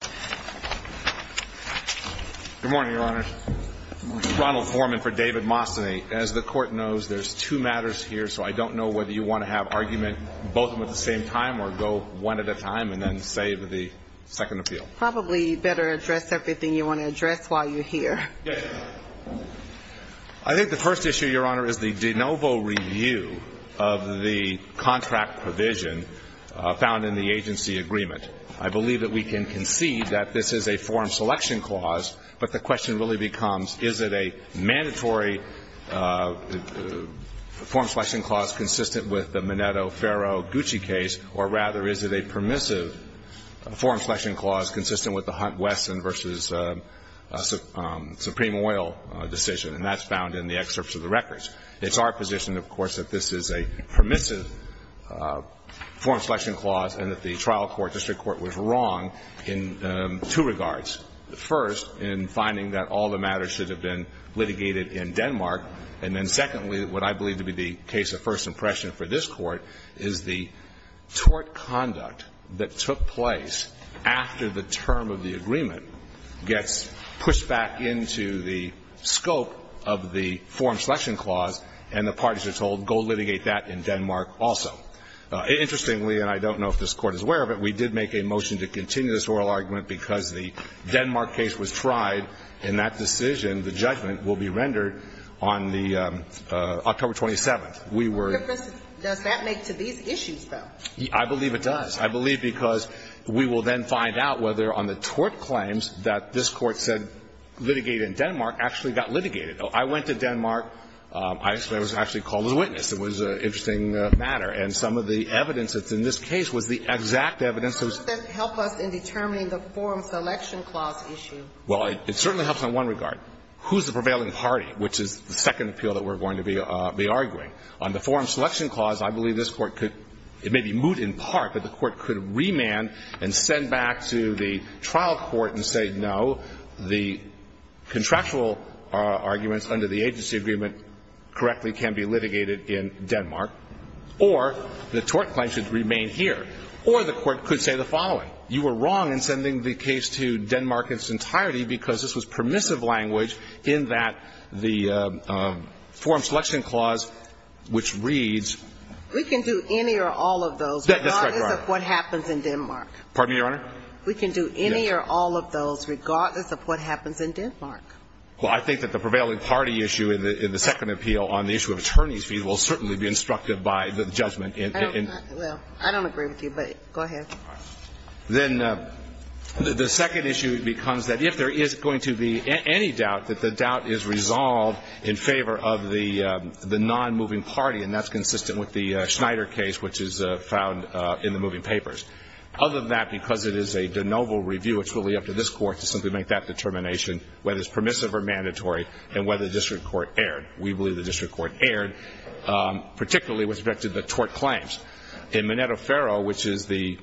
Good morning, Your Honor. I'm Ronald Foreman for David Mastany. As the Court knows, there are two matters here, so I don't know whether you want to have argument both of them at the same time or go one at a time and then save the second appeal. Probably better address everything you want to address while you're here. I think the first issue, Your Honor, is the de novo review of the contract provision found in the agency agreement. I believe that we can concede that this is a form selection clause, but the question really becomes, is it a mandatory form selection clause consistent with the Mineto-Ferro-Gucci case, or rather, is it a permissive form selection clause consistent with the Hunt-Wesson v. Supreme Oil decision? And that's found in the excerpts of the records. It's our position, of course, that this is a permissive form selection clause and that the trial court, district court, was wrong in two regards. First, in finding that all the matters should have been litigated in Denmark, and then secondly, what I believe to be the case of first impression for this Court is the tort conduct that took place after the term of the agreement gets pushed back into the scope of the form selection clause and the parties are told, go litigate that in Denmark also. Interestingly, and I don't know if this Court is aware of it, we did make a motion to continue this oral argument because the Denmark case was tried, and that decision, the judgment, will be rendered on the October 27th. Does that make to these issues, though? I believe it does. I believe because we will then find out whether on the tort claims that this Court said litigate in Denmark actually got litigated. I went to Denmark. I was actually called a witness. It was an interesting matter. And some of the evidence that's in this case was the exact evidence. How does that help us in determining the form selection clause issue? Well, it certainly helps in one regard. Who's the prevailing party, which is the second appeal that we're going to be arguing? On the form selection clause, I believe this Court could – it may be moot in part, but the Court could remand and send back to the trial court and say, no, the contractual arguments under the agency agreement correctly can be litigated in Denmark, or the tort claim should remain here. Or the Court could say the following. You were wrong in sending the case to Denmark in its entirety because this was permissive language in that the form selection clause, which reads – We can do any or all of those, regardless of what happens in Denmark. Pardon me, Your Honor? We can do any or all of those, regardless of what happens in Denmark. Well, I think that the prevailing party issue in the second appeal on the issue of attorney's fees will certainly be instructed by the judgment in – Well, I don't agree with you, but go ahead. Then the second issue becomes that if there is going to be any doubt, that the doubt is resolved in favor of the nonmoving party, and that's consistent with the Schneider case, which is found in the moving papers. Other than that, because it is a de novo review, it's really up to this Court to simply make that determination, whether it's permissive or mandatory, and whether the district court erred. We believe the district court erred, particularly with respect to the tort claims. In Minetto-Ferro, which is the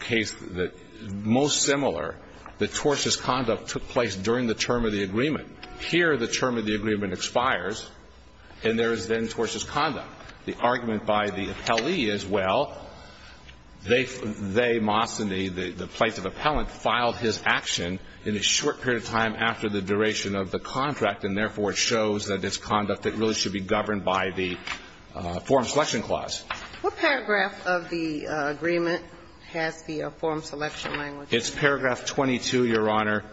case that is most similar, the tortious conduct took place during the term of the agreement. Here, the term of the agreement expires, and there is then tortious conduct. The argument by the appellee is, well, they, Moss and the plaintiff appellant, filed his action in a short period of time after the duration of the contract, and therefore it shows that it's conduct that really should be governed by the form selection clause. What paragraph of the agreement has the form selection language? It's paragraph 22, Your Honor,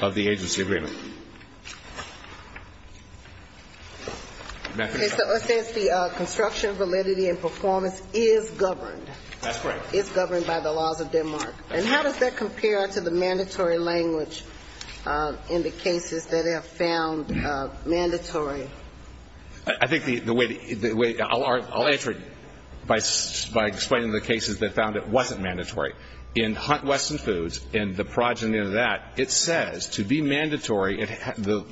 of the agency agreement. It says the construction validity and performance is governed. That's correct. It's governed by the laws of Denmark. And how does that compare to the mandatory language in the cases that have found mandatory? I think the way the way I'll answer it by explaining the cases that found it wasn't mandatory. In Hunt-Western Foods, in the progeny of that, it says to be mandatory, the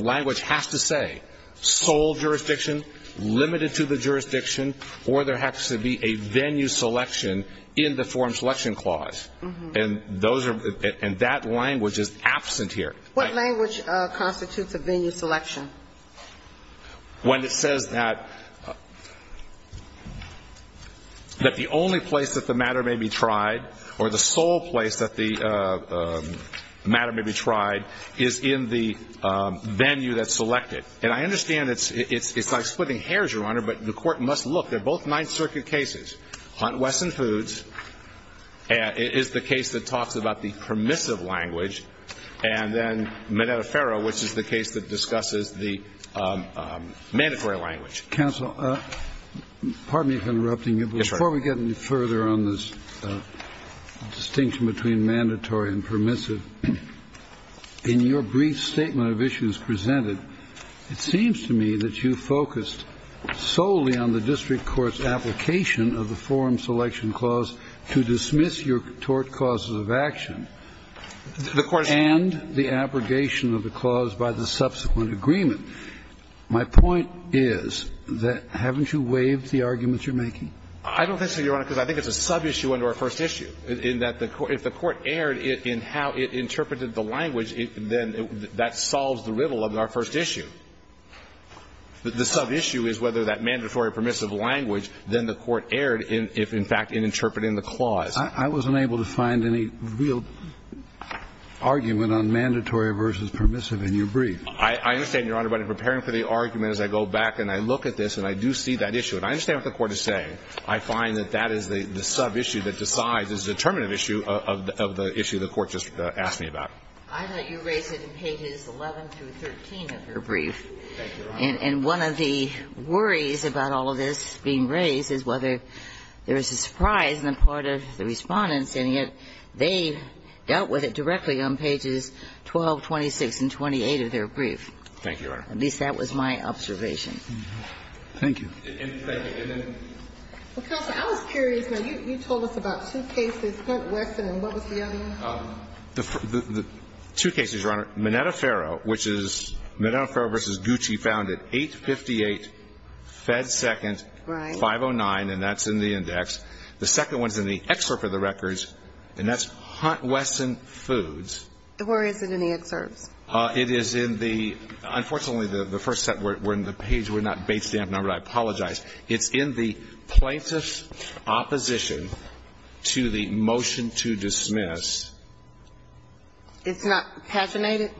language has to say sole jurisdiction, limited to the jurisdiction, or there has to be a venue selection in the form selection clause. And those are, and that language is absent here. What language constitutes a venue selection? When it says that the only place that the matter may be tried or the sole place that the matter may be tried is in the venue that's selected. And I understand it's like splitting hairs, Your Honor, but the court must look. They're both Ninth Circuit cases. Hunt-Western Foods is the case that talks about the permissive language, and then Minetta-Ferra, which is the case that discusses the mandatory language. Counsel, pardon me for interrupting you, but before we get any further on this distinction between mandatory and permissive, in your brief statement of issues presented, it seems to me that you focused solely on the district court's application of the forum selection clause to dismiss your tort causes of action. And the abrogation of the clause by the subsequent agreement. My point is that, haven't you waived the argument you're making? I don't think so, Your Honor, because I think it's a sub-issue under our first issue, in that the court, if the court erred in how it interpreted the language, then that solves the riddle of our first issue. The sub-issue is whether that mandatory or permissive language, then the court erred in, in fact, in interpreting the clause. I wasn't able to find any real argument on mandatory versus permissive in your brief. I understand, Your Honor. But in preparing for the argument, as I go back and I look at this and I do see that issue, and I understand what the Court is saying, I find that that is the sub-issue that decides, is the determinative issue of the issue the Court just asked me about. I thought you raised it in pages 11 through 13 of your brief. Thank you, Your Honor. And one of the worries about all of this being raised is whether there is a surprise in the part of the Respondents in it, they dealt with it directly on pages 12, 26, and 28 of their brief. Thank you, Your Honor. At least, that was my observation. Thank you. Thank you. Counsel, I was curious. You told us about two cases, Hunt, Wesson, and what was the other one? The two cases, Your Honor, Minetta-Faro, which is Minetta-Faro v. Gucci found it 858, Fed Second, 509. And that's in the index. The second one's in the excerpt for the records, and that's Hunt, Wesson, Foods. Where is it in the excerpts? It is in the, unfortunately, the first set, we're in the page, we're not based in that number, I apologize. It's in the plaintiff's opposition to the motion to dismiss. It's not paginated?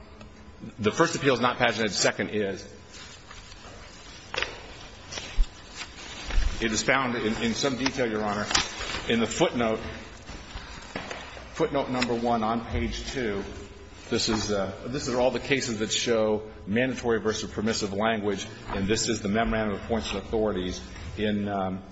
The first appeal's not paginated, the second is. It is found in some detail, Your Honor, in the footnote, footnote number one on page two. This is, this is all the cases that show mandatory versus permissive language, and this is the memorandum of points of authorities in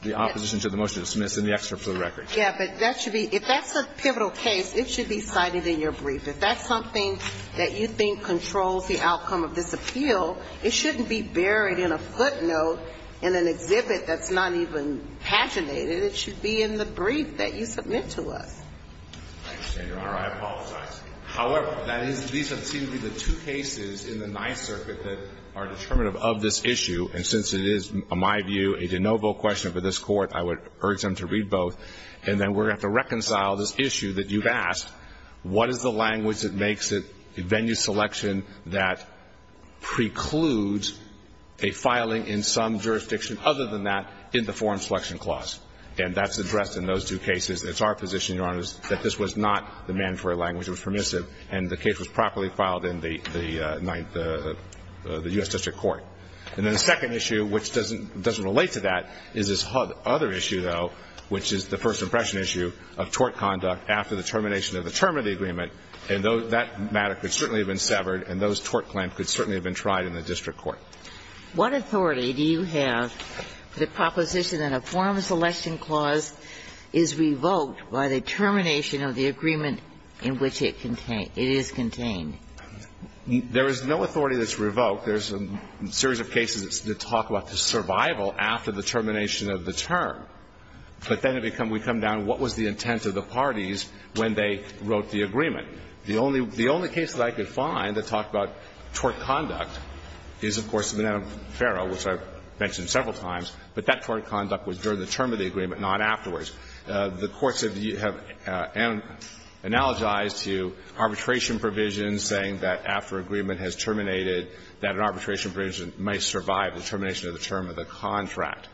the opposition to the motion to dismiss in the excerpt for the record. Yeah, but that should be, if that's a pivotal case, it should be cited in your brief. If that's something that you think controls the outcome of this appeal, it should not be cited in your brief. It shouldn't be buried in a footnote in an exhibit that's not even paginated. It should be in the brief that you submit to us. I understand, Your Honor, I apologize. However, that is, these have seemed to be the two cases in the Ninth Circuit that are determinative of this issue. And since it is, in my view, a de novo question for this Court, I would urge them to read both, and then we're going to have to reconcile this issue that you've asked. What is the language that makes it a venue selection that precludes a filing in some jurisdiction other than that in the Foreign Selection Clause? And that's addressed in those two cases. It's our position, Your Honor, that this was not the mandatory language. It was permissive, and the case was properly filed in the Ninth, the U.S. District Court. And then the second issue, which doesn't, doesn't relate to that, is this other issue, though, which is the first impression issue of tort conduct after the termination of the term of the agreement. And that matter could certainly have been severed, and those tort claims could certainly have been tried in the district court. What authority do you have for the proposition that a Foreign Selection Clause is revoked by the termination of the agreement in which it contains, it is contained? There is no authority that's revoked. There's a series of cases that talk about the survival after the termination of the term, but then we come down to what was the intent of the parties when they wrote the agreement. The only case that I could find that talked about tort conduct is, of course, the Moneto-Ferro, which I've mentioned several times. But that tort conduct was during the term of the agreement, not afterwards. The courts have analogized to arbitration provisions saying that after agreement has terminated that an arbitration provision may survive the termination of the term of the contract.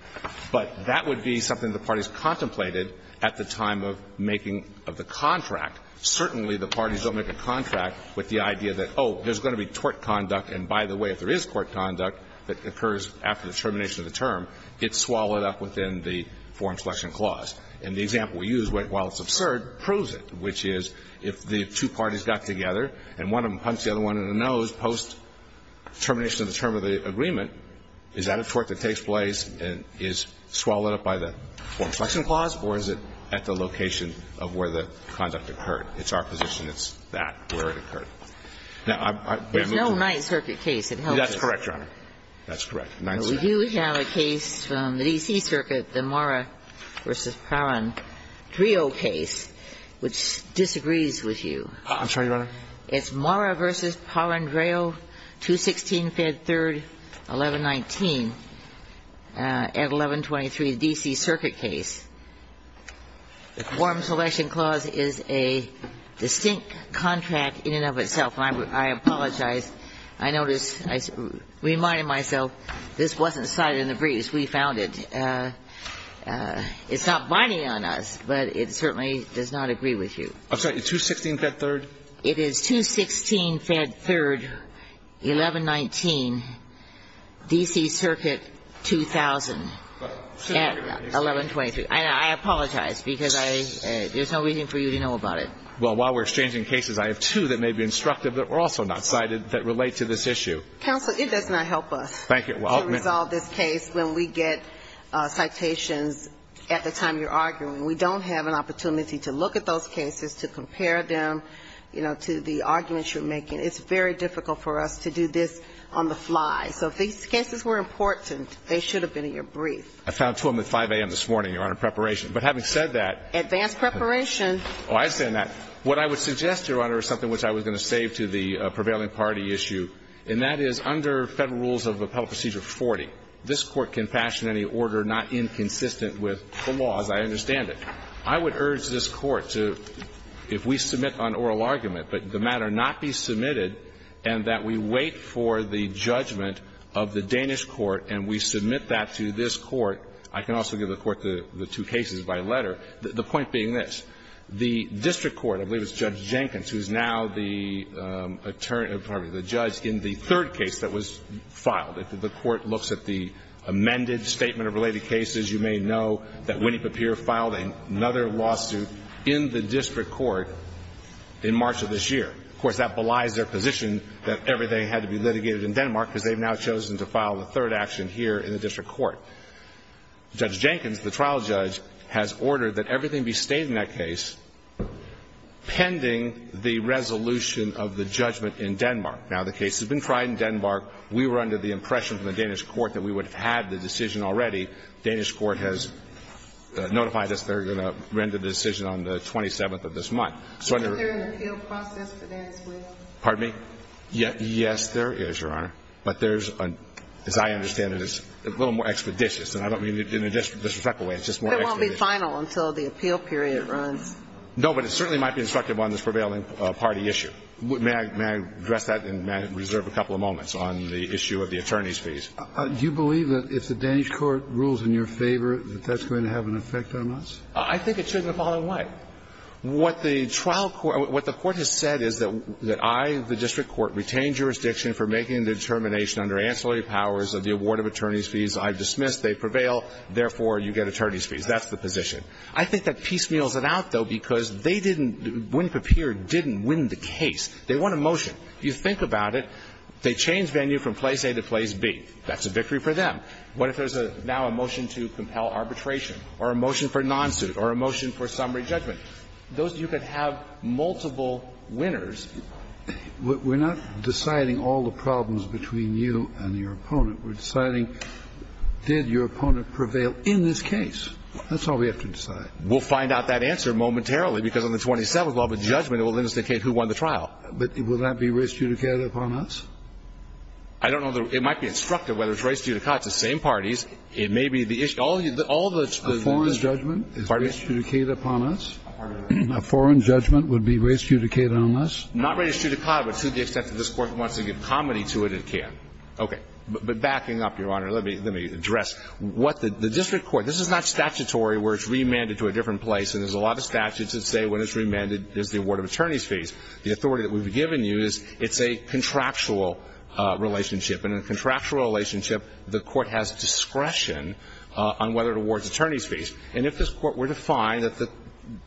But that would be something the parties contemplated at the time of making of the contract. Certainly, the parties don't make a contract with the idea that, oh, there's going to be tort conduct, and by the way, if there is tort conduct that occurs after the termination of the term, it's swallowed up within the Foreign Selection Clause. And the example we use, while it's absurd, proves it, which is if the two parties got together and one of them punched the other one in the nose post-termination term of the agreement, is that a tort that takes place and is swallowed up by the Foreign Selection Clause, or is it at the location of where the conduct occurred? It's our position it's that, where it occurred. Now, I'm going to move on. Ginsburg. There's no Ninth Circuit case that helps us. That's correct, Your Honor. That's correct. Ninth Circuit. We do have a case from the D.C. Circuit, the Mora v. Palandreau case, which disagrees with you. I'm sorry, Your Honor. It's Mora v. Palandreau, 216 Fed 3rd, 1119, at 1123 D.C. Circuit case. The Foreign Selection Clause is a distinct contract in and of itself. And I apologize. I notice I reminded myself this wasn't cited in the briefs. We found it. It's not binding on us, but it certainly does not agree with you. I'm sorry, 216 Fed 3rd? It is 216 Fed 3rd, 1119, D.C. Circuit, 2000, at 1123. I apologize, because there's no reason for you to know about it. Well, while we're exchanging cases, I have two that may be instructive that were also not cited that relate to this issue. Counsel, it does not help us to resolve this case when we get citations at the time you're arguing. We don't have an opportunity to look at those cases, to compare them, you know, to the arguments you're making. It's very difficult for us to do this on the fly. So if these cases were important, they should have been in your brief. I found two of them at 5 a.m. this morning, Your Honor, preparation. But having said that. Advanced preparation. Oh, I understand that. What I would suggest, Your Honor, is something which I was going to save to the prevailing party issue, and that is under Federal rules of appellate procedure 40, this Court can fashion any order not inconsistent with the laws. I understand it. I would urge this Court to, if we submit on oral argument, but the matter not be submitted, and that we wait for the judgment of the Danish court and we submit that to this court, I can also give the court the two cases by letter. The point being this. The district court, I believe it's Judge Jenkins, who is now the attorney or probably the judge in the third case that was filed, if the court looks at the amended statement of related cases, you may know that Winnie Papier filed another lawsuit in the district court in March of this year. Of course, that belies their position that everything had to be litigated in Denmark because they've now chosen to file a third action here in the district court. Judge Jenkins, the trial judge, has ordered that everything be stated in that case pending the resolution of the judgment in Denmark. Now, the case has been tried in Denmark. We were under the impression from the Danish court that we would have had the decision already. Danish court has notified us they're going to render the decision on the 27th of this month. Is there an appeal process for that as well? Pardon me? Yes, there is, Your Honor. But there's, as I understand it, it's a little more expeditious. And I don't mean it in a disrespectful way. It's just more expeditious. But it won't be final until the appeal period runs. No, but it certainly might be instructive on this prevailing party issue. May I address that and reserve a couple of moments on the issue of the attorneys' fees? Do you believe that if the Danish court rules in your favor that that's going to have an effect on us? I think it shouldn't have fallen away. What the trial court or what the court has said is that I, the district court, retained jurisdiction for making a determination under ancillary powers of the award of attorneys' fees. I've dismissed. They prevail. Therefore, you get attorneys' fees. That's the position. I think that piecemeals it out, though, because they didn't win the case. They won a motion. You think about it. They changed venue from place A to place B. That's a victory for them. What if there's now a motion to compel arbitration or a motion for non-suit or a motion for summary judgment? You could have multiple winners. We're not deciding all the problems between you and your opponent. We're deciding did your opponent prevail in this case. That's all we have to decide. We'll find out that answer momentarily, because on the 27th, we'll have a judgment that will indicate who won the trial. But will that be res judicata upon us? I don't know. It might be instructive whether it's res judicata. It's the same parties. It may be the issue. The foreign judgment is res judicata upon us. Pardon me? A foreign judgment would be res judicata on us. Not res judicata, but to the extent that this Court wants to give comedy to it, it can. Okay. But backing up, Your Honor, let me address. The district court, this is not statutory where it's remanded to a different place, and there's a lot of statutes that say when it's remanded, there's the award of attorney's fees. The authority that we've given you is it's a contractual relationship. And in a contractual relationship, the Court has discretion on whether it awards attorney's fees. And if this Court were to find that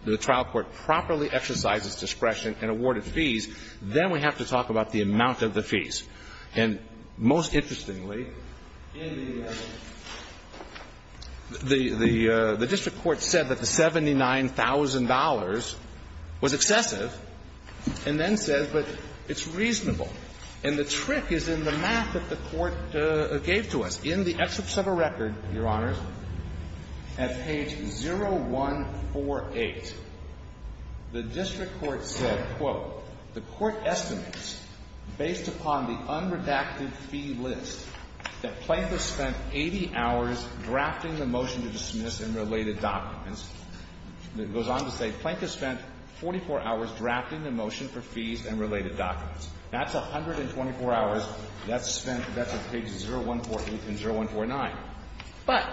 the trial court properly exercises discretion to award attorney's fees, and most interestingly, the district court said that the $79,000 was excessive, and then says, but it's reasonable. And the trick is in the math that the Court gave to us. In the excerpts of a record, Your Honors, at page 0148, the district court said, based upon the unredacted fee list, that Plank has spent 80 hours drafting the motion to dismiss and related documents. It goes on to say, Plank has spent 44 hours drafting the motion for fees and related documents. That's 124 hours. That's spent, that's at pages 0148 and 0149. But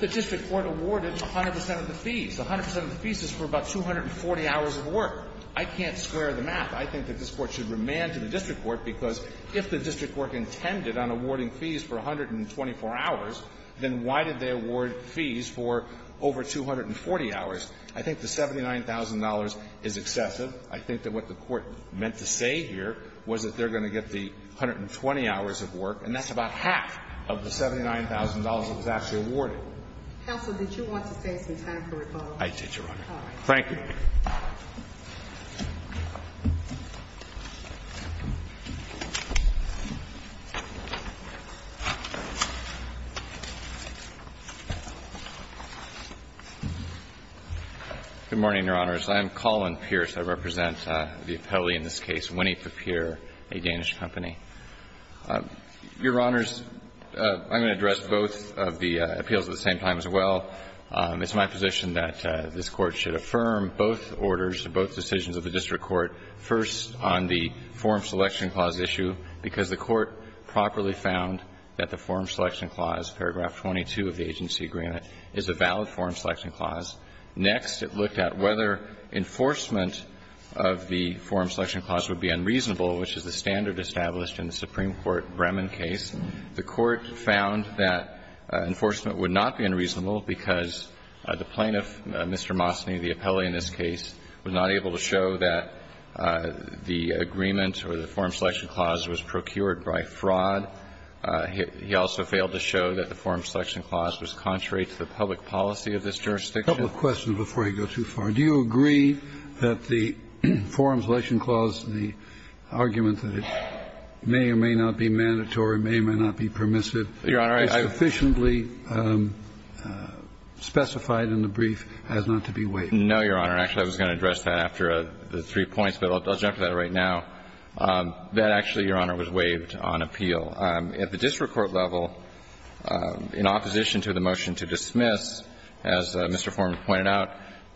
the district court awarded 100 percent of the fees. 100 percent of the fees is for about 240 hours of work. I can't square the math. I think that this Court should remand to the district court, because if the district court intended on awarding fees for 124 hours, then why did they award fees for over 240 hours? I think the $79,000 is excessive. I think that what the Court meant to say here was that they're going to get the 120 hours of work, and that's about half of the $79,000 that was actually awarded. Counsel, did you want to save some time for rebuttal? I did, Your Honor. All right. Thank you. Good morning, Your Honors. I am Colin Pierce. I represent the appellee in this case, Winnie Papier, a Danish company. Your Honors, I'm going to address both of the appeals at the same time as well. It's my position that this Court should affirm both orders, both decisions of the district court, first on the form selection clause issue, because the Court properly found that the form selection clause, paragraph 22 of the agency agreement, is a valid form selection clause. Next, it looked at whether enforcement of the form selection clause would be unreasonable, which is the standard established in the Supreme Court Bremen case. The Court found that enforcement would not be unreasonable because the plaintiff, Mr. Mosny, the appellee in this case, was not able to show that the agreement or the form selection clause was procured by fraud. He also failed to show that the form selection clause was contrary to the public policy of this jurisdiction. A couple of questions before I go too far. Do you agree that the form selection clause, the argument that it may or may not be permissive, is sufficiently specified in the brief as not to be waived? No, Your Honor. Actually, I was going to address that after the three points, but I'll jump to that right now. That actually, Your Honor, was waived on appeal. At the district court level, in opposition to the motion to dismiss, as Mr. Foreman pointed out,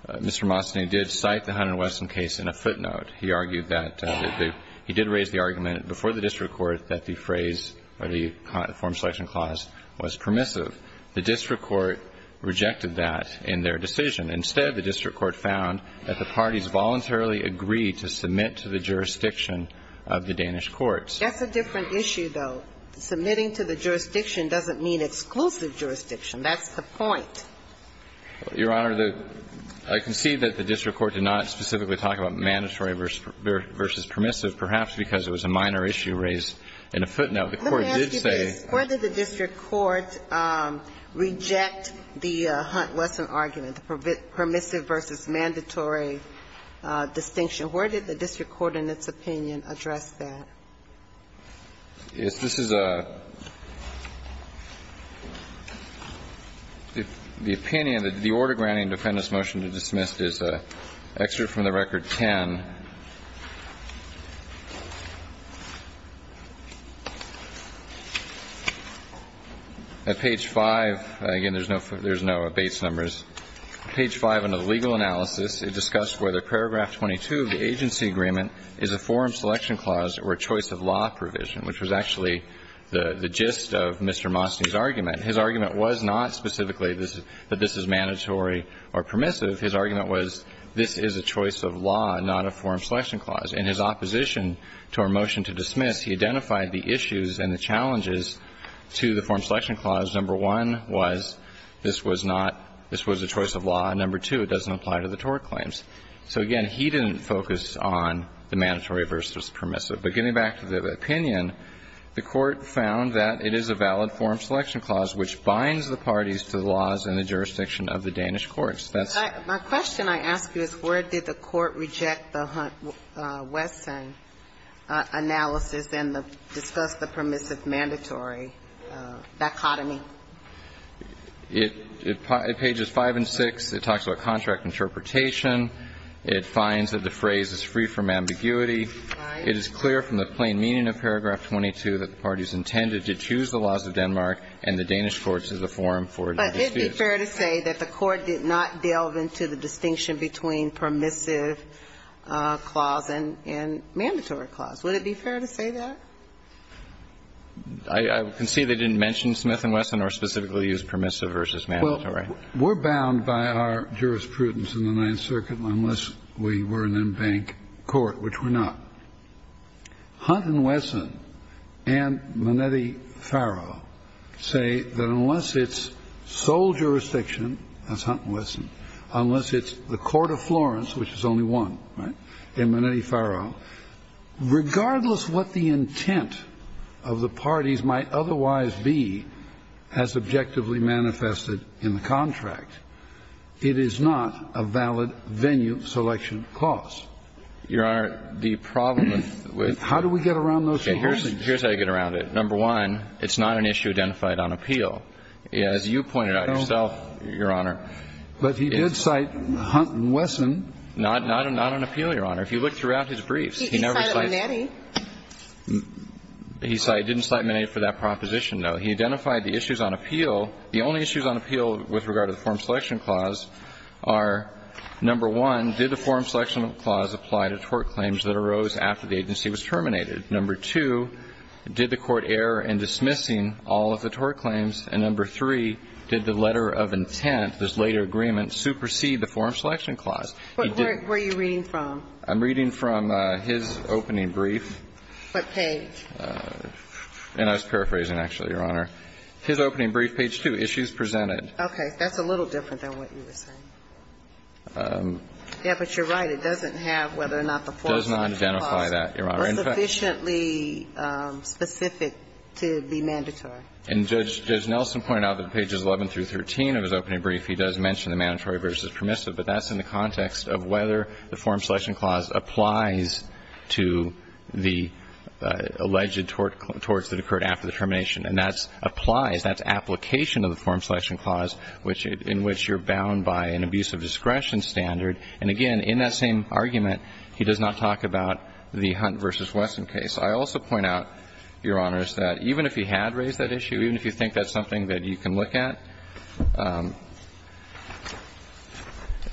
Mr. Mosny did cite the Hunter and Wesson case in a footnote. He argued that the – he did raise the argument before the district court that the phrase or the form selection clause was permissive. The district court rejected that in their decision. Instead, the district court found that the parties voluntarily agreed to submit to the jurisdiction of the Danish courts. That's a different issue, though. Submitting to the jurisdiction doesn't mean exclusive jurisdiction. That's the point. Your Honor, the – I concede that the district court did not specifically talk about mandatory versus permissive, perhaps because it was a minor issue raised in a footnote. The court did say – Let me ask you this. Where did the district court reject the Hunt-Wesson argument, the permissive versus mandatory distinction? Where did the district court, in its opinion, address that? Yes, this is a – the opinion that the order granting defendant's motion to dismiss is an excerpt from the Record 10 at page 5. Again, there's no base numbers. Page 5, under the legal analysis, it discussed whether paragraph 22 of the agency agreement is a form selection clause or a choice of law provision, which was actually the gist of Mr. Mosny's argument. His argument was not specifically that this is mandatory or permissive. His argument was this is a choice of law, not a form selection clause. In his opposition to our motion to dismiss, he identified the issues and the challenges to the form selection clause. Number one was this was not – this was a choice of law. Number two, it doesn't apply to the tort claims. So, again, he didn't focus on the mandatory versus permissive. But getting back to the opinion, the Court found that it is a valid form selection clause which binds the parties to the laws in the jurisdiction of the Danish courts. That's the point. My question I ask you is where did the Court reject the Hunt-Wesson analysis and discuss the permissive-mandatory dichotomy? It – it – pages 5 and 6, it talks about contract interpretation. It finds that the phrase is free from ambiguity. It is clear from the plain meaning of paragraph 22 that the parties intended to choose the laws of Denmark and the Danish courts as a form for the dispute. But it would be fair to say that the Court did not delve into the distinction between permissive clause and – and mandatory clause. Would it be fair to say that? I concede they didn't mention Smith and Wesson or specifically use permissive versus mandatory. Well, we're bound by our jurisprudence in the Ninth Circuit unless we were an embanked court, which we're not. Hunt and Wesson and Manetti-Faro say that unless it's sole jurisdiction – that's Hunt and Wesson – unless it's the court of Florence, which is only one, right, and Manetti-Faro, regardless what the intent of the parties might otherwise be as objectively manifested in the contract, it is not a valid venue selection clause. Your Honor, the problem with – How do we get around those two points? Here's how you get around it. Number one, it's not an issue identified on appeal. As you pointed out yourself, Your Honor. But he did cite Hunt and Wesson. Not on appeal, Your Honor. If you look throughout his briefs, he never cited – He cited Manetti. He didn't cite Manetti for that proposition, though. He identified the issues on appeal. The only issues on appeal with regard to the form selection clause are, number one, did the form selection clause apply to tort claims that arose after the agency was terminated? Number two, did the court err in dismissing all of the tort claims? And number three, did the letter of intent, this later agreement, supersede the form selection clause? Where are you reading from? I'm reading from his opening brief. What page? And I was paraphrasing, actually, Your Honor. His opening brief, page 2, issues presented. Okay. That's a little different than what you were saying. Yeah, but you're right. It doesn't have whether or not the form selection clause was sufficiently specific to be mandatory. And Judge Nelson pointed out that pages 11 through 13 of his opening brief, he does mention the mandatory versus permissive, but that's in the context of whether the form selection clause applies to the alleged torts that occurred after the termination. And that's applies, that's application of the form selection clause in which you're bound by an abuse of discretion standard. And again, in that same argument, he does not talk about the Hunt v. Wesson case. I also point out, Your Honors, that even if he had raised that issue, even if you think that's something that you can look at,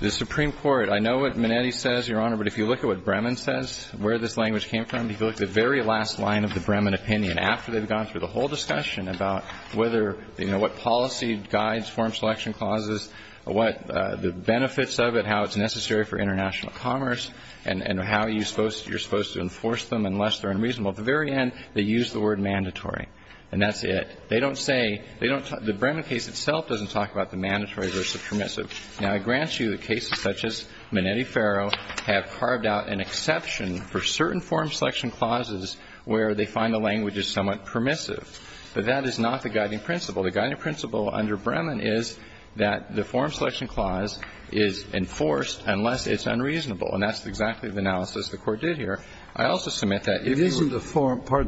the Supreme Court, I know what Minetti says, Your Honor, but if you look at what Bremen says, where this language came from, if you look at the very last line of the Bremen opinion, after they've gone through the whole discussion about whether, you know, what policy guides form selection clauses, what the benefits of it, how it's necessary for international commerce and how you're supposed to enforce them unless they're unreasonable, at the very end, they use the word mandatory. And that's it. They don't say, they don't talk, the Bremen case itself doesn't talk about the mandatory versus permissive. Now, I grant you that cases such as Minetti-Ferro have carved out an exception for certain form selection clauses where they find the language is somewhat permissive. But that is not the guiding principle. The guiding principle under Bremen is that the form selection clause is enforced unless it's unreasonable. And that's exactly the analysis the Court did here. I also submit that if you were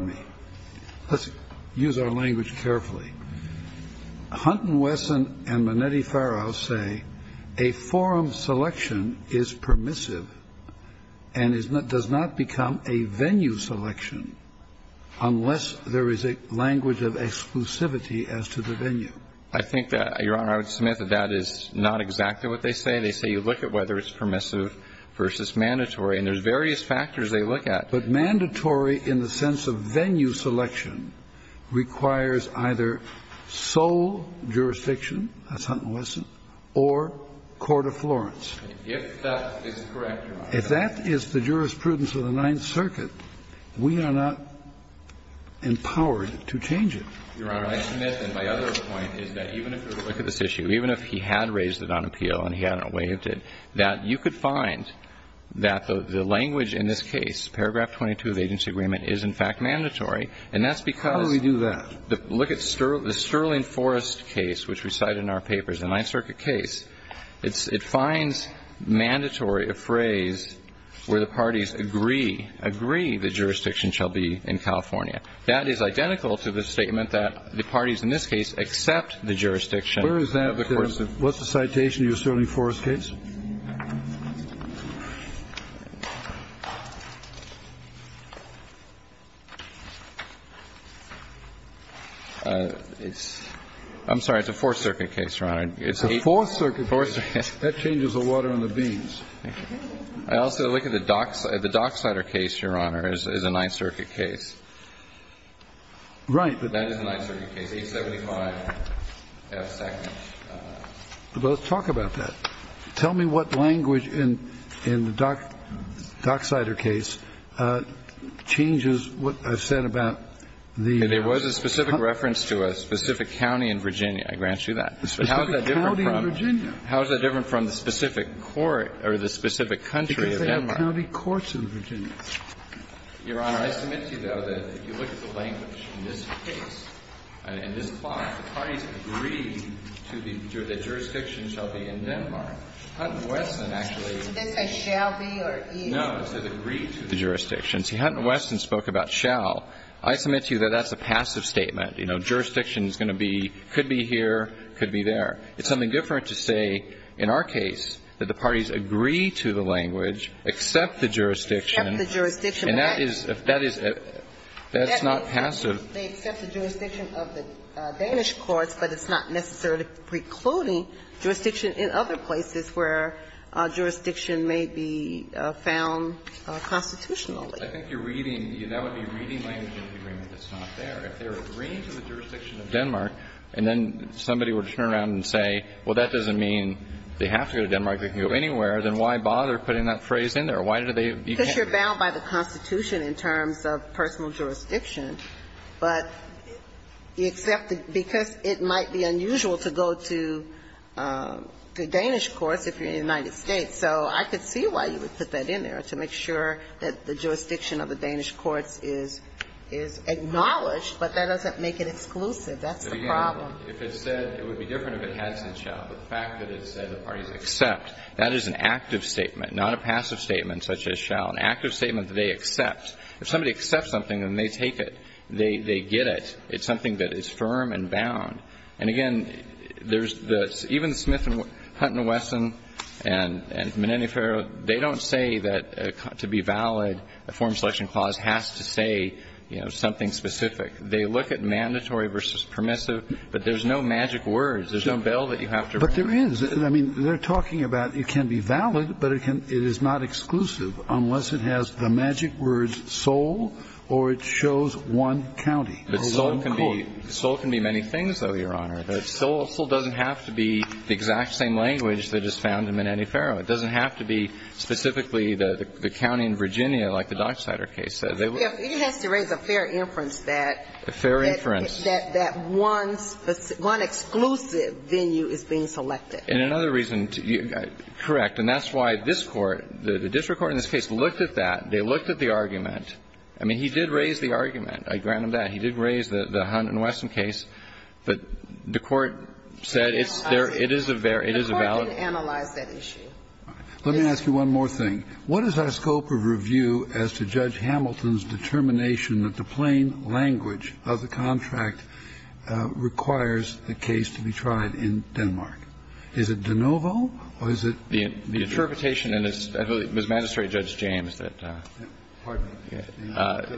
to use our language carefully, Hunt v. Wesson and Minetti-Ferro say a form selection is permissive and does not become a venue selection unless there is a language of exclusivity as to the venue. I think that, Your Honor, I would submit that that is not exactly what they say. They say you look at whether it's permissive versus mandatory, and there's various factors they look at. But mandatory in the sense of venue selection requires either sole jurisdiction as Hunt v. Wesson or court of Florence. If that is correct, Your Honor. If that is the jurisprudence of the Ninth Circuit, we are not empowered to change it. Your Honor, I submit that my other point is that even if you were to look at this issue, even if he had raised it on appeal and he hadn't waived it, that you could find that the language in this case, paragraph 22 of the agency agreement, is in fact mandatory. And that's because the look at the Sterling Forrest case, which recites the same language that's cited in our papers, the Ninth Circuit case, it finds mandatory a phrase where the parties agree, agree the jurisdiction shall be in California. That is identical to the statement that the parties in this case accept the jurisdiction of the court system. What's the citation of the Sterling Forrest case? I'm sorry. It's a Fourth Circuit case, Your Honor. It's a Fourth Circuit case. That changes the water on the beans. I also look at the Dockside. The Dockside case, Your Honor, is a Ninth Circuit case. Right. But that is a Ninth Circuit case. Tell me about that. That's a Ninth Circuit case. That's a Ninth Circuit case. Tell me what language in the Dockside case changes what I've said about the. There was a specific reference to a specific county in Virginia. I grant you that. A specific county in Virginia? How is that different from the specific court or the specific country of Denmark? Because they have county courts in Virginia. Your Honor, I submit to you, though, that if you look at the language in this case and in this clause, the parties agree to the jurisdiction shall be in Denmark. Hutton-Weston actually. That says shall be or is. No, it says agree to the jurisdiction. See, Hutton-Weston spoke about shall. I submit to you that that's a passive statement. You know, jurisdiction is going to be, could be here, could be there. It's something different to say in our case that the parties agree to the language, accept the jurisdiction. Accept the jurisdiction. And that is, that is, that's not passive. They accept the jurisdiction of the Danish courts, but it's not necessarily that they're precluding jurisdiction in other places where jurisdiction may be found constitutionally. I think you're reading, that would be reading language in the agreement that's not there. If they're agreeing to the jurisdiction of Denmark and then somebody were to turn around and say, well, that doesn't mean they have to go to Denmark, they can go anywhere, then why bother putting that phrase in there? Why do they, you can't? Because you're bound by the Constitution in terms of personal jurisdiction. But you accept it because it might be unusual to go to the Danish courts if you're in the United States. So I could see why you would put that in there, to make sure that the jurisdiction of the Danish courts is, is acknowledged, but that doesn't make it exclusive. That's the problem. If it said, it would be different if it had said shall. But the fact that it said the parties accept, that is an active statement, not a passive statement such as shall. An active statement that they accept. If somebody accepts something, then they take it. They, they get it. It's something that is firm and bound. And, again, there's the, even Smith and Hunt and Wesson and Menendez-Ferrer, they don't say that to be valid, a form selection clause has to say, you know, something specific. They look at mandatory versus permissive, but there's no magic words. There's no bell that you have to ring. Kennedy. But there is. I mean, they're talking about it can be valid, but it can, it is not exclusive unless it has the magic words sole or it shows one county. The sole can be, the sole can be many things, though, Your Honor. The sole doesn't have to be the exact same language that is found in Menendez-Ferrer. It doesn't have to be specifically the, the county in Virginia like the Dockstader case said. It has to raise a fair inference that. A fair inference. That, that one, one exclusive venue is being selected. And another reason, correct, and that's why this Court, the district court in this case, looked at that. They looked at the argument. I mean, he did raise the argument. I grant him that. He did raise the Hunt and Wesson case. But the Court said it's, it is a, it is a valid. The Court didn't analyze that issue. Let me ask you one more thing. What is our scope of review as to Judge Hamilton's determination that the plain language of the contract requires the case to be tried in Denmark? Is it de novo, or is it? The, the interpretation, and it's, I believe it was Magistrate Judge James that. Pardon me.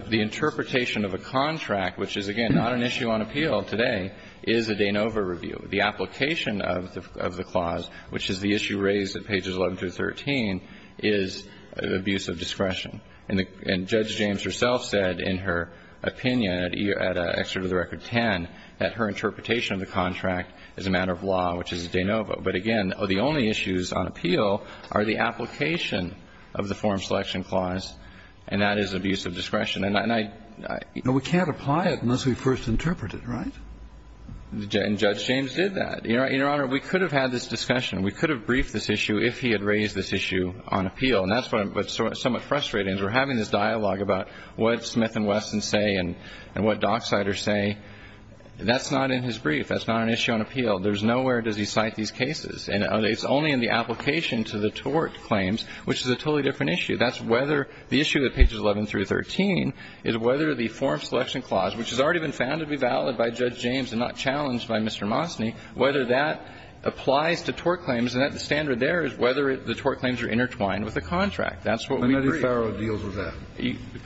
The interpretation of a contract, which is, again, not an issue on appeal today, is a de novo review. The application of the, of the clause, which is the issue raised at pages 11 through 13, is abuse of discretion. And the, and Judge James herself said in her opinion at excerpt of the record 10 that her interpretation of the contract is a matter of law, which is de novo. But again, the only issues on appeal are the application of the form selection clause, and that is abuse of discretion. And I, I. But we can't apply it unless we first interpret it, right? And Judge James did that. Your Honor, we could have had this discussion. We could have briefed this issue if he had raised this issue on appeal. And that's what, what's somewhat frustrating is we're having this dialogue about what Smith and Wesson say and, and what Dockseider say. That's not in his brief. That's not an issue on appeal. There's nowhere does he cite these cases. And it's only in the application to the tort claims, which is a totally different issue. That's whether the issue at pages 11 through 13 is whether the form selection clause, which has already been found to be valid by Judge James and not challenged by Mr. Mosny, whether that applies to tort claims. And the standard there is whether the tort claims are intertwined with the contract. That's what we brief. Kennedy Farrow deals with that.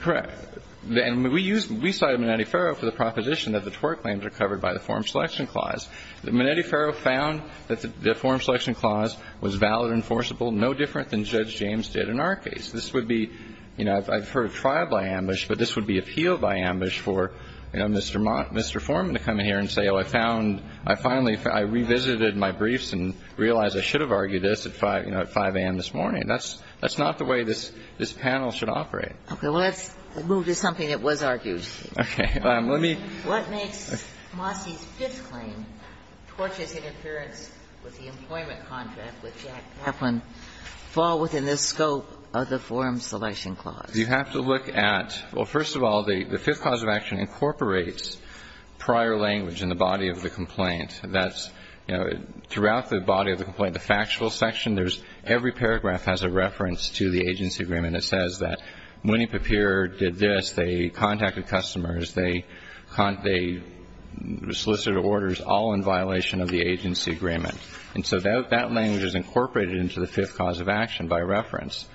Correct. And we use, we cite Menetti-Farrow for the proposition that the tort claims are covered by the form selection clause. Menetti-Farrow found that the form selection clause was valid, enforceable, no different than Judge James did in our case. This would be, you know, I've heard trial by ambush, but this would be appeal by ambush for, you know, Mr. Forman to come in here and say, oh, I found, I finally found, I revisited my briefs and realized I should have argued this at 5, you know, at 5 a.m. this morning. That's not the way this panel should operate. Okay. Well, let's move to something that was argued. Okay. Let me. What makes Mosny's fifth claim, tortious interference with the employment contract with Jack Kaplan, fall within the scope of the form selection clause? You have to look at, well, first of all, the fifth clause of action incorporates prior language in the body of the complaint. That's, you know, throughout the body of the complaint, the factual section, there's every paragraph has a reference to the agency agreement that says that Mooney-Papier did this. They contacted customers. They solicited orders, all in violation of the agency agreement. And so that language is incorporated into the fifth clause of action by reference.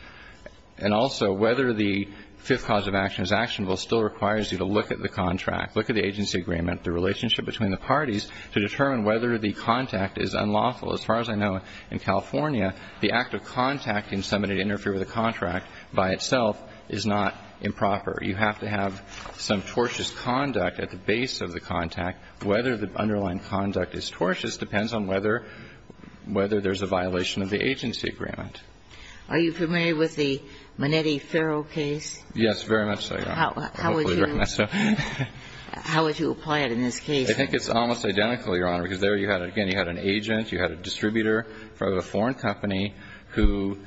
And also, whether the fifth clause of action is actionable still requires you to look at the contract. Look at the agency agreement, the relationship between the parties to determine whether the contact is unlawful. As far as I know, in California, the act of contacting somebody to interfere with a contract by itself is not improper. You have to have some tortious conduct at the base of the contact. Whether the underlying conduct is tortious depends on whether there's a violation of the agency agreement. Are you familiar with the Minetti-Ferro case? Yes, very much so, Your Honor. How would you? How would you apply it in this case? I think it's almost identical, Your Honor, because there you had, again, you had an agent, you had a distributor from a foreign company who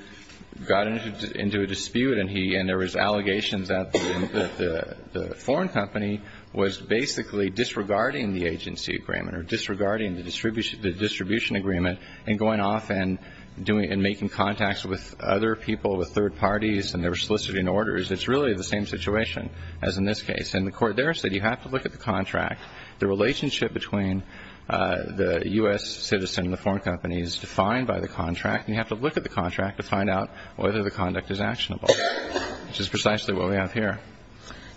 got into a dispute and he and there was allegations that the foreign company was basically disregarding the agency agreement or disregarding the distribution agreement and going off and doing and making contacts with other people, with third parties, and they were soliciting orders. It's really the same situation as in this case. And the court there said you have to look at the contract. The relationship between the U.S. citizen and the foreign company is defined by the contract, and you have to look at the contract to find out whether the conduct is actionable, which is precisely what we have here.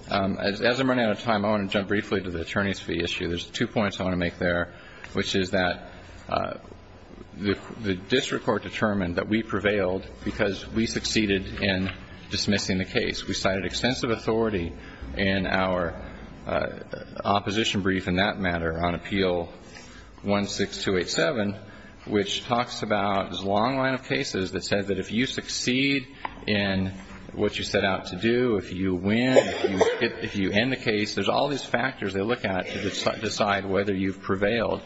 As I'm running out of time, I want to jump briefly to the attorney's fee issue. There's two points I want to make there, which is that the district court determined that we prevailed because we succeeded in dismissing the case. We cited extensive authority in our opposition brief in that matter on Appeal 16287, which talks about this long line of cases that says that if you succeed in what you set out to do, if you win, if you end the case, there's all these factors they look at to decide whether you've prevailed.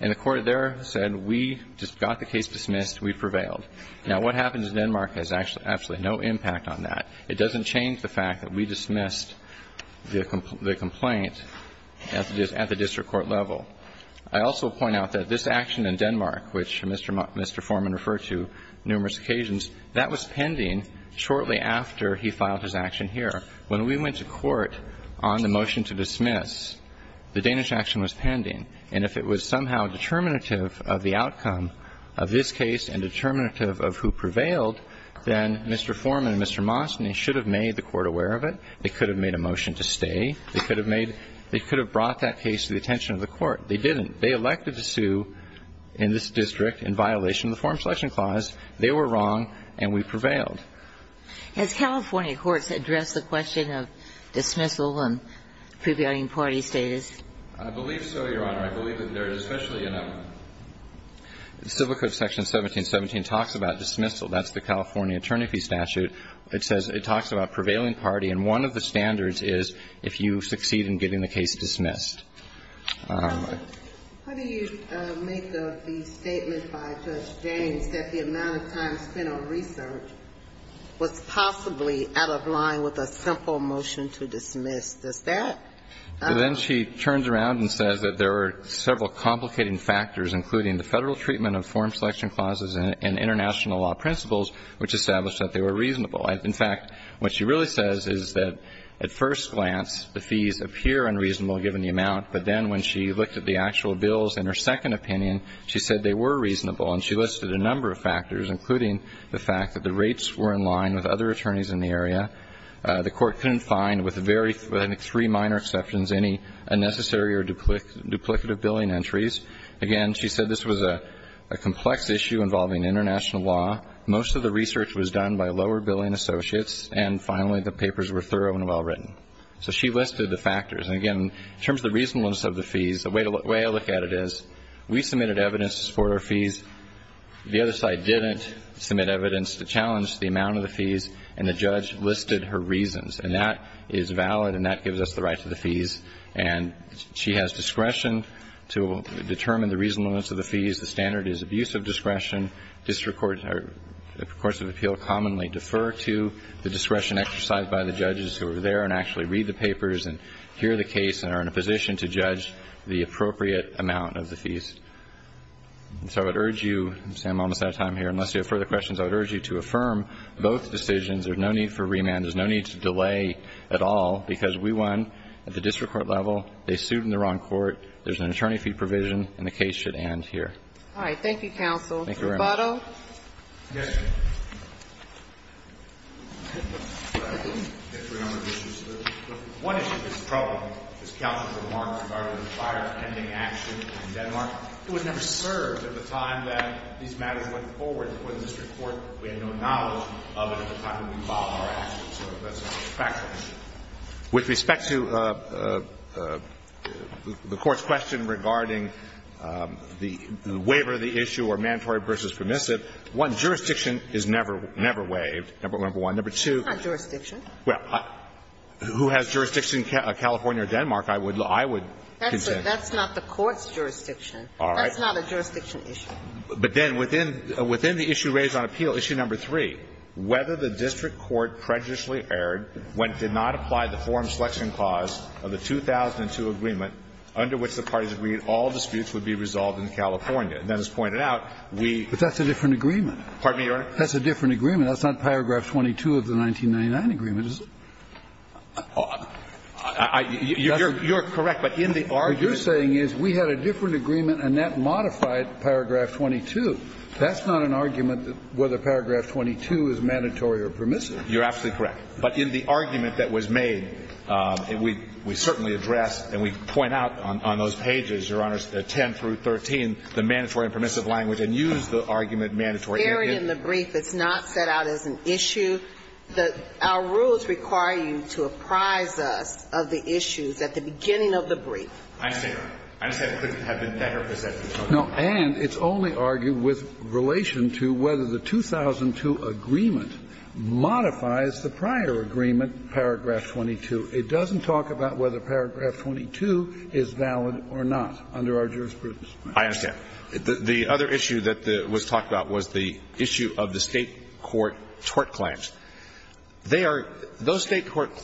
And the court there said we just got the case dismissed. We prevailed. Now, what happens in Denmark has absolutely no impact on that. It doesn't change the fact that we dismissed the complaint at the district court level. I also point out that this action in Denmark, which Mr. Foreman referred to numerous occasions, that was pending shortly after he filed his action here. When we went to court on the motion to dismiss, the Danish action was pending. And if it was somehow determinative of the outcome of this case and determinative of who prevailed, then Mr. Foreman and Mr. Monson should have made the court aware of it. They could have made a motion to stay. They could have made they could have brought that case to the attention of the court. They didn't. They elected to sue in this district in violation of the Foreign Selection Clause. They were wrong, and we prevailed. Has California courts addressed the question of dismissal and prevailing party status? I believe so, Your Honor. I believe that there is especially in Civil Code Section 1717 talks about dismissal. That's the California attorney fee statute. It says it talks about prevailing party, and one of the standards is if you succeed in getting the case dismissed. How do you make the statement by Judge James that the amount of time spent on research was possibly out of line with a simple motion to dismiss? Does that? Then she turns around and says that there were several complicating factors, including the federal treatment of Foreign Selection Clauses and international law principles, which established that they were reasonable. In fact, what she really says is that at first glance the fees appear unreasonable given the amount, but then when she looked at the actual bills in her second opinion, she said they were reasonable, and she listed a number of factors, including the fact that the rates were in line with other attorneys in the area. The court couldn't find, with three minor exceptions, any unnecessary or duplicative billing entries. Again, she said this was a complex issue involving international law. Most of the research was done by lower-billing associates, and finally the papers were thorough and well-written. So she listed the factors. And again, in terms of the reasonableness of the fees, the way I look at it is we submitted evidence for our fees. The other side didn't submit evidence to challenge the amount of the fees, and the judge listed her reasons. And that is valid, and that gives us the right to the fees. And she has discretion to determine the reasonableness of the fees. The standard is abuse of discretion. District courts or courts of appeal commonly defer to the discretion exercised by the judges who are there and actually read the papers and hear the case and are in a position to judge the appropriate amount of the fees. So I would urge you, Sam, I'm almost out of time here. Unless you have further questions, I would urge you to affirm both decisions. There's no need for remand. There's no need to delay at all, because we won at the district court level. They sued in the wrong court. There's an attorney fee provision, and the case should end here. All right. Thank you, counsel. Thank you, Your Honor. Roboto. Yes, Your Honor. I didn't get through a number of issues. The one issue that's problematic, as counsel remarked, regarding the fire-pending action in Denmark, it was never served at the time that these matters went forward. It was a district court. We had no knowledge of it at the time that we filed our actions. So that's a factor. With respect to the Court's question regarding the waiver of the issue or mandatory versus permissive, one, jurisdiction is never waived, number one. Number two. It's not jurisdiction. Well, who has jurisdiction in California or Denmark, I would contend. That's not the Court's jurisdiction. All right. That's not a jurisdiction issue. But then within the issue raised on appeal, issue number three, whether the district court prejudicially erred when it did not apply the forum selection clause of the 2002 agreement under which the parties agreed all disputes would be resolved in California. And then as pointed out, we ---- But that's a different agreement. Pardon me, Your Honor? That's a different agreement. That's not paragraph 22 of the 1999 agreement, is it? You're correct. But in the argument ---- What you're saying is we had a different agreement and that modified paragraph 22. That's not an argument that whether paragraph 22 is mandatory or permissive. You're absolutely correct. But in the argument that was made, we certainly addressed and we point out on those pages, Your Honors, 10 through 13, the mandatory and permissive language and used the argument mandatory. In the brief, it's not set out as an issue. I understand. I understand it couldn't have been better presented. No. And it's only argued with relation to whether the 2002 agreement modifies the prior agreement, paragraph 22. It doesn't talk about whether paragraph 22 is valid or not under our jurisprudence. I understand. The other issue that was talked about was the issue of the State court tort claims. They are ---- those State court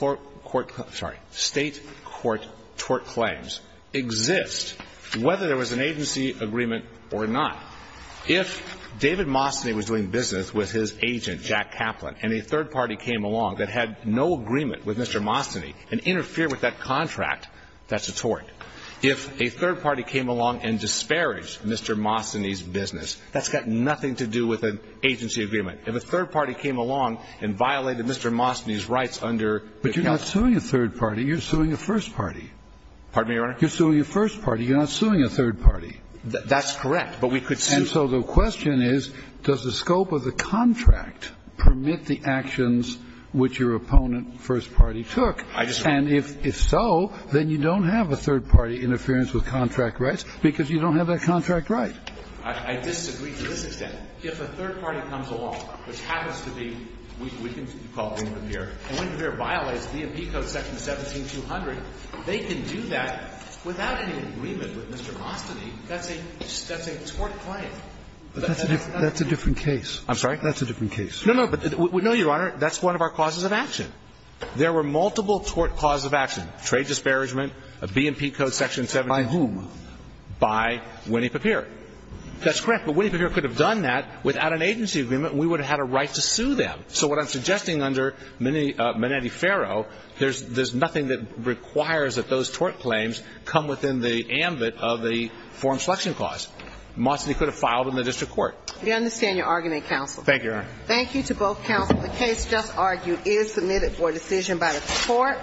tort claims exist whether there was an agency agreement or not. If David Mastany was doing business with his agent, Jack Kaplan, and a third party came along that had no agreement with Mr. Mastany and interfered with that contract, that's a tort. If a third party came along and disparaged Mr. Mastany's business, that's got nothing to do with an agency agreement. If a third party came along and violated Mr. Mastany's rights under ---- But you're not suing a third party. You're suing a first party. Pardon me, Your Honor? You're suing a first party. You're not suing a third party. That's correct. But we could sue. And so the question is, does the scope of the contract permit the actions which your opponent, first party, took? I just ---- And if so, then you don't have a third party interference with contract rights because you don't have that contract right. I disagree to this extent. If a third party comes along, which happens to be, we can call it Winnie-Papier, and Winnie-Papier violates B&P Code section 17-200, they can do that without any agreement with Mr. Mastany. That's a tort claim. That's a different case. I'm sorry? That's a different case. No, no. No, Your Honor, that's one of our causes of action. There were multiple tort causes of action, trade disparagement, a B&P Code section 17-200. By whom? By Winnie-Papier. That's correct. But Winnie-Papier could have done that without an agency agreement, and we would have had a right to sue them. So what I'm suggesting under Minetti-Ferro, there's nothing that requires that those tort claims come within the ambit of the form selection clause. Mastany could have filed in the district court. We understand your argument, counsel. Thank you, Your Honor. Thank you to both counsel. The case just argued is submitted for decision by the court.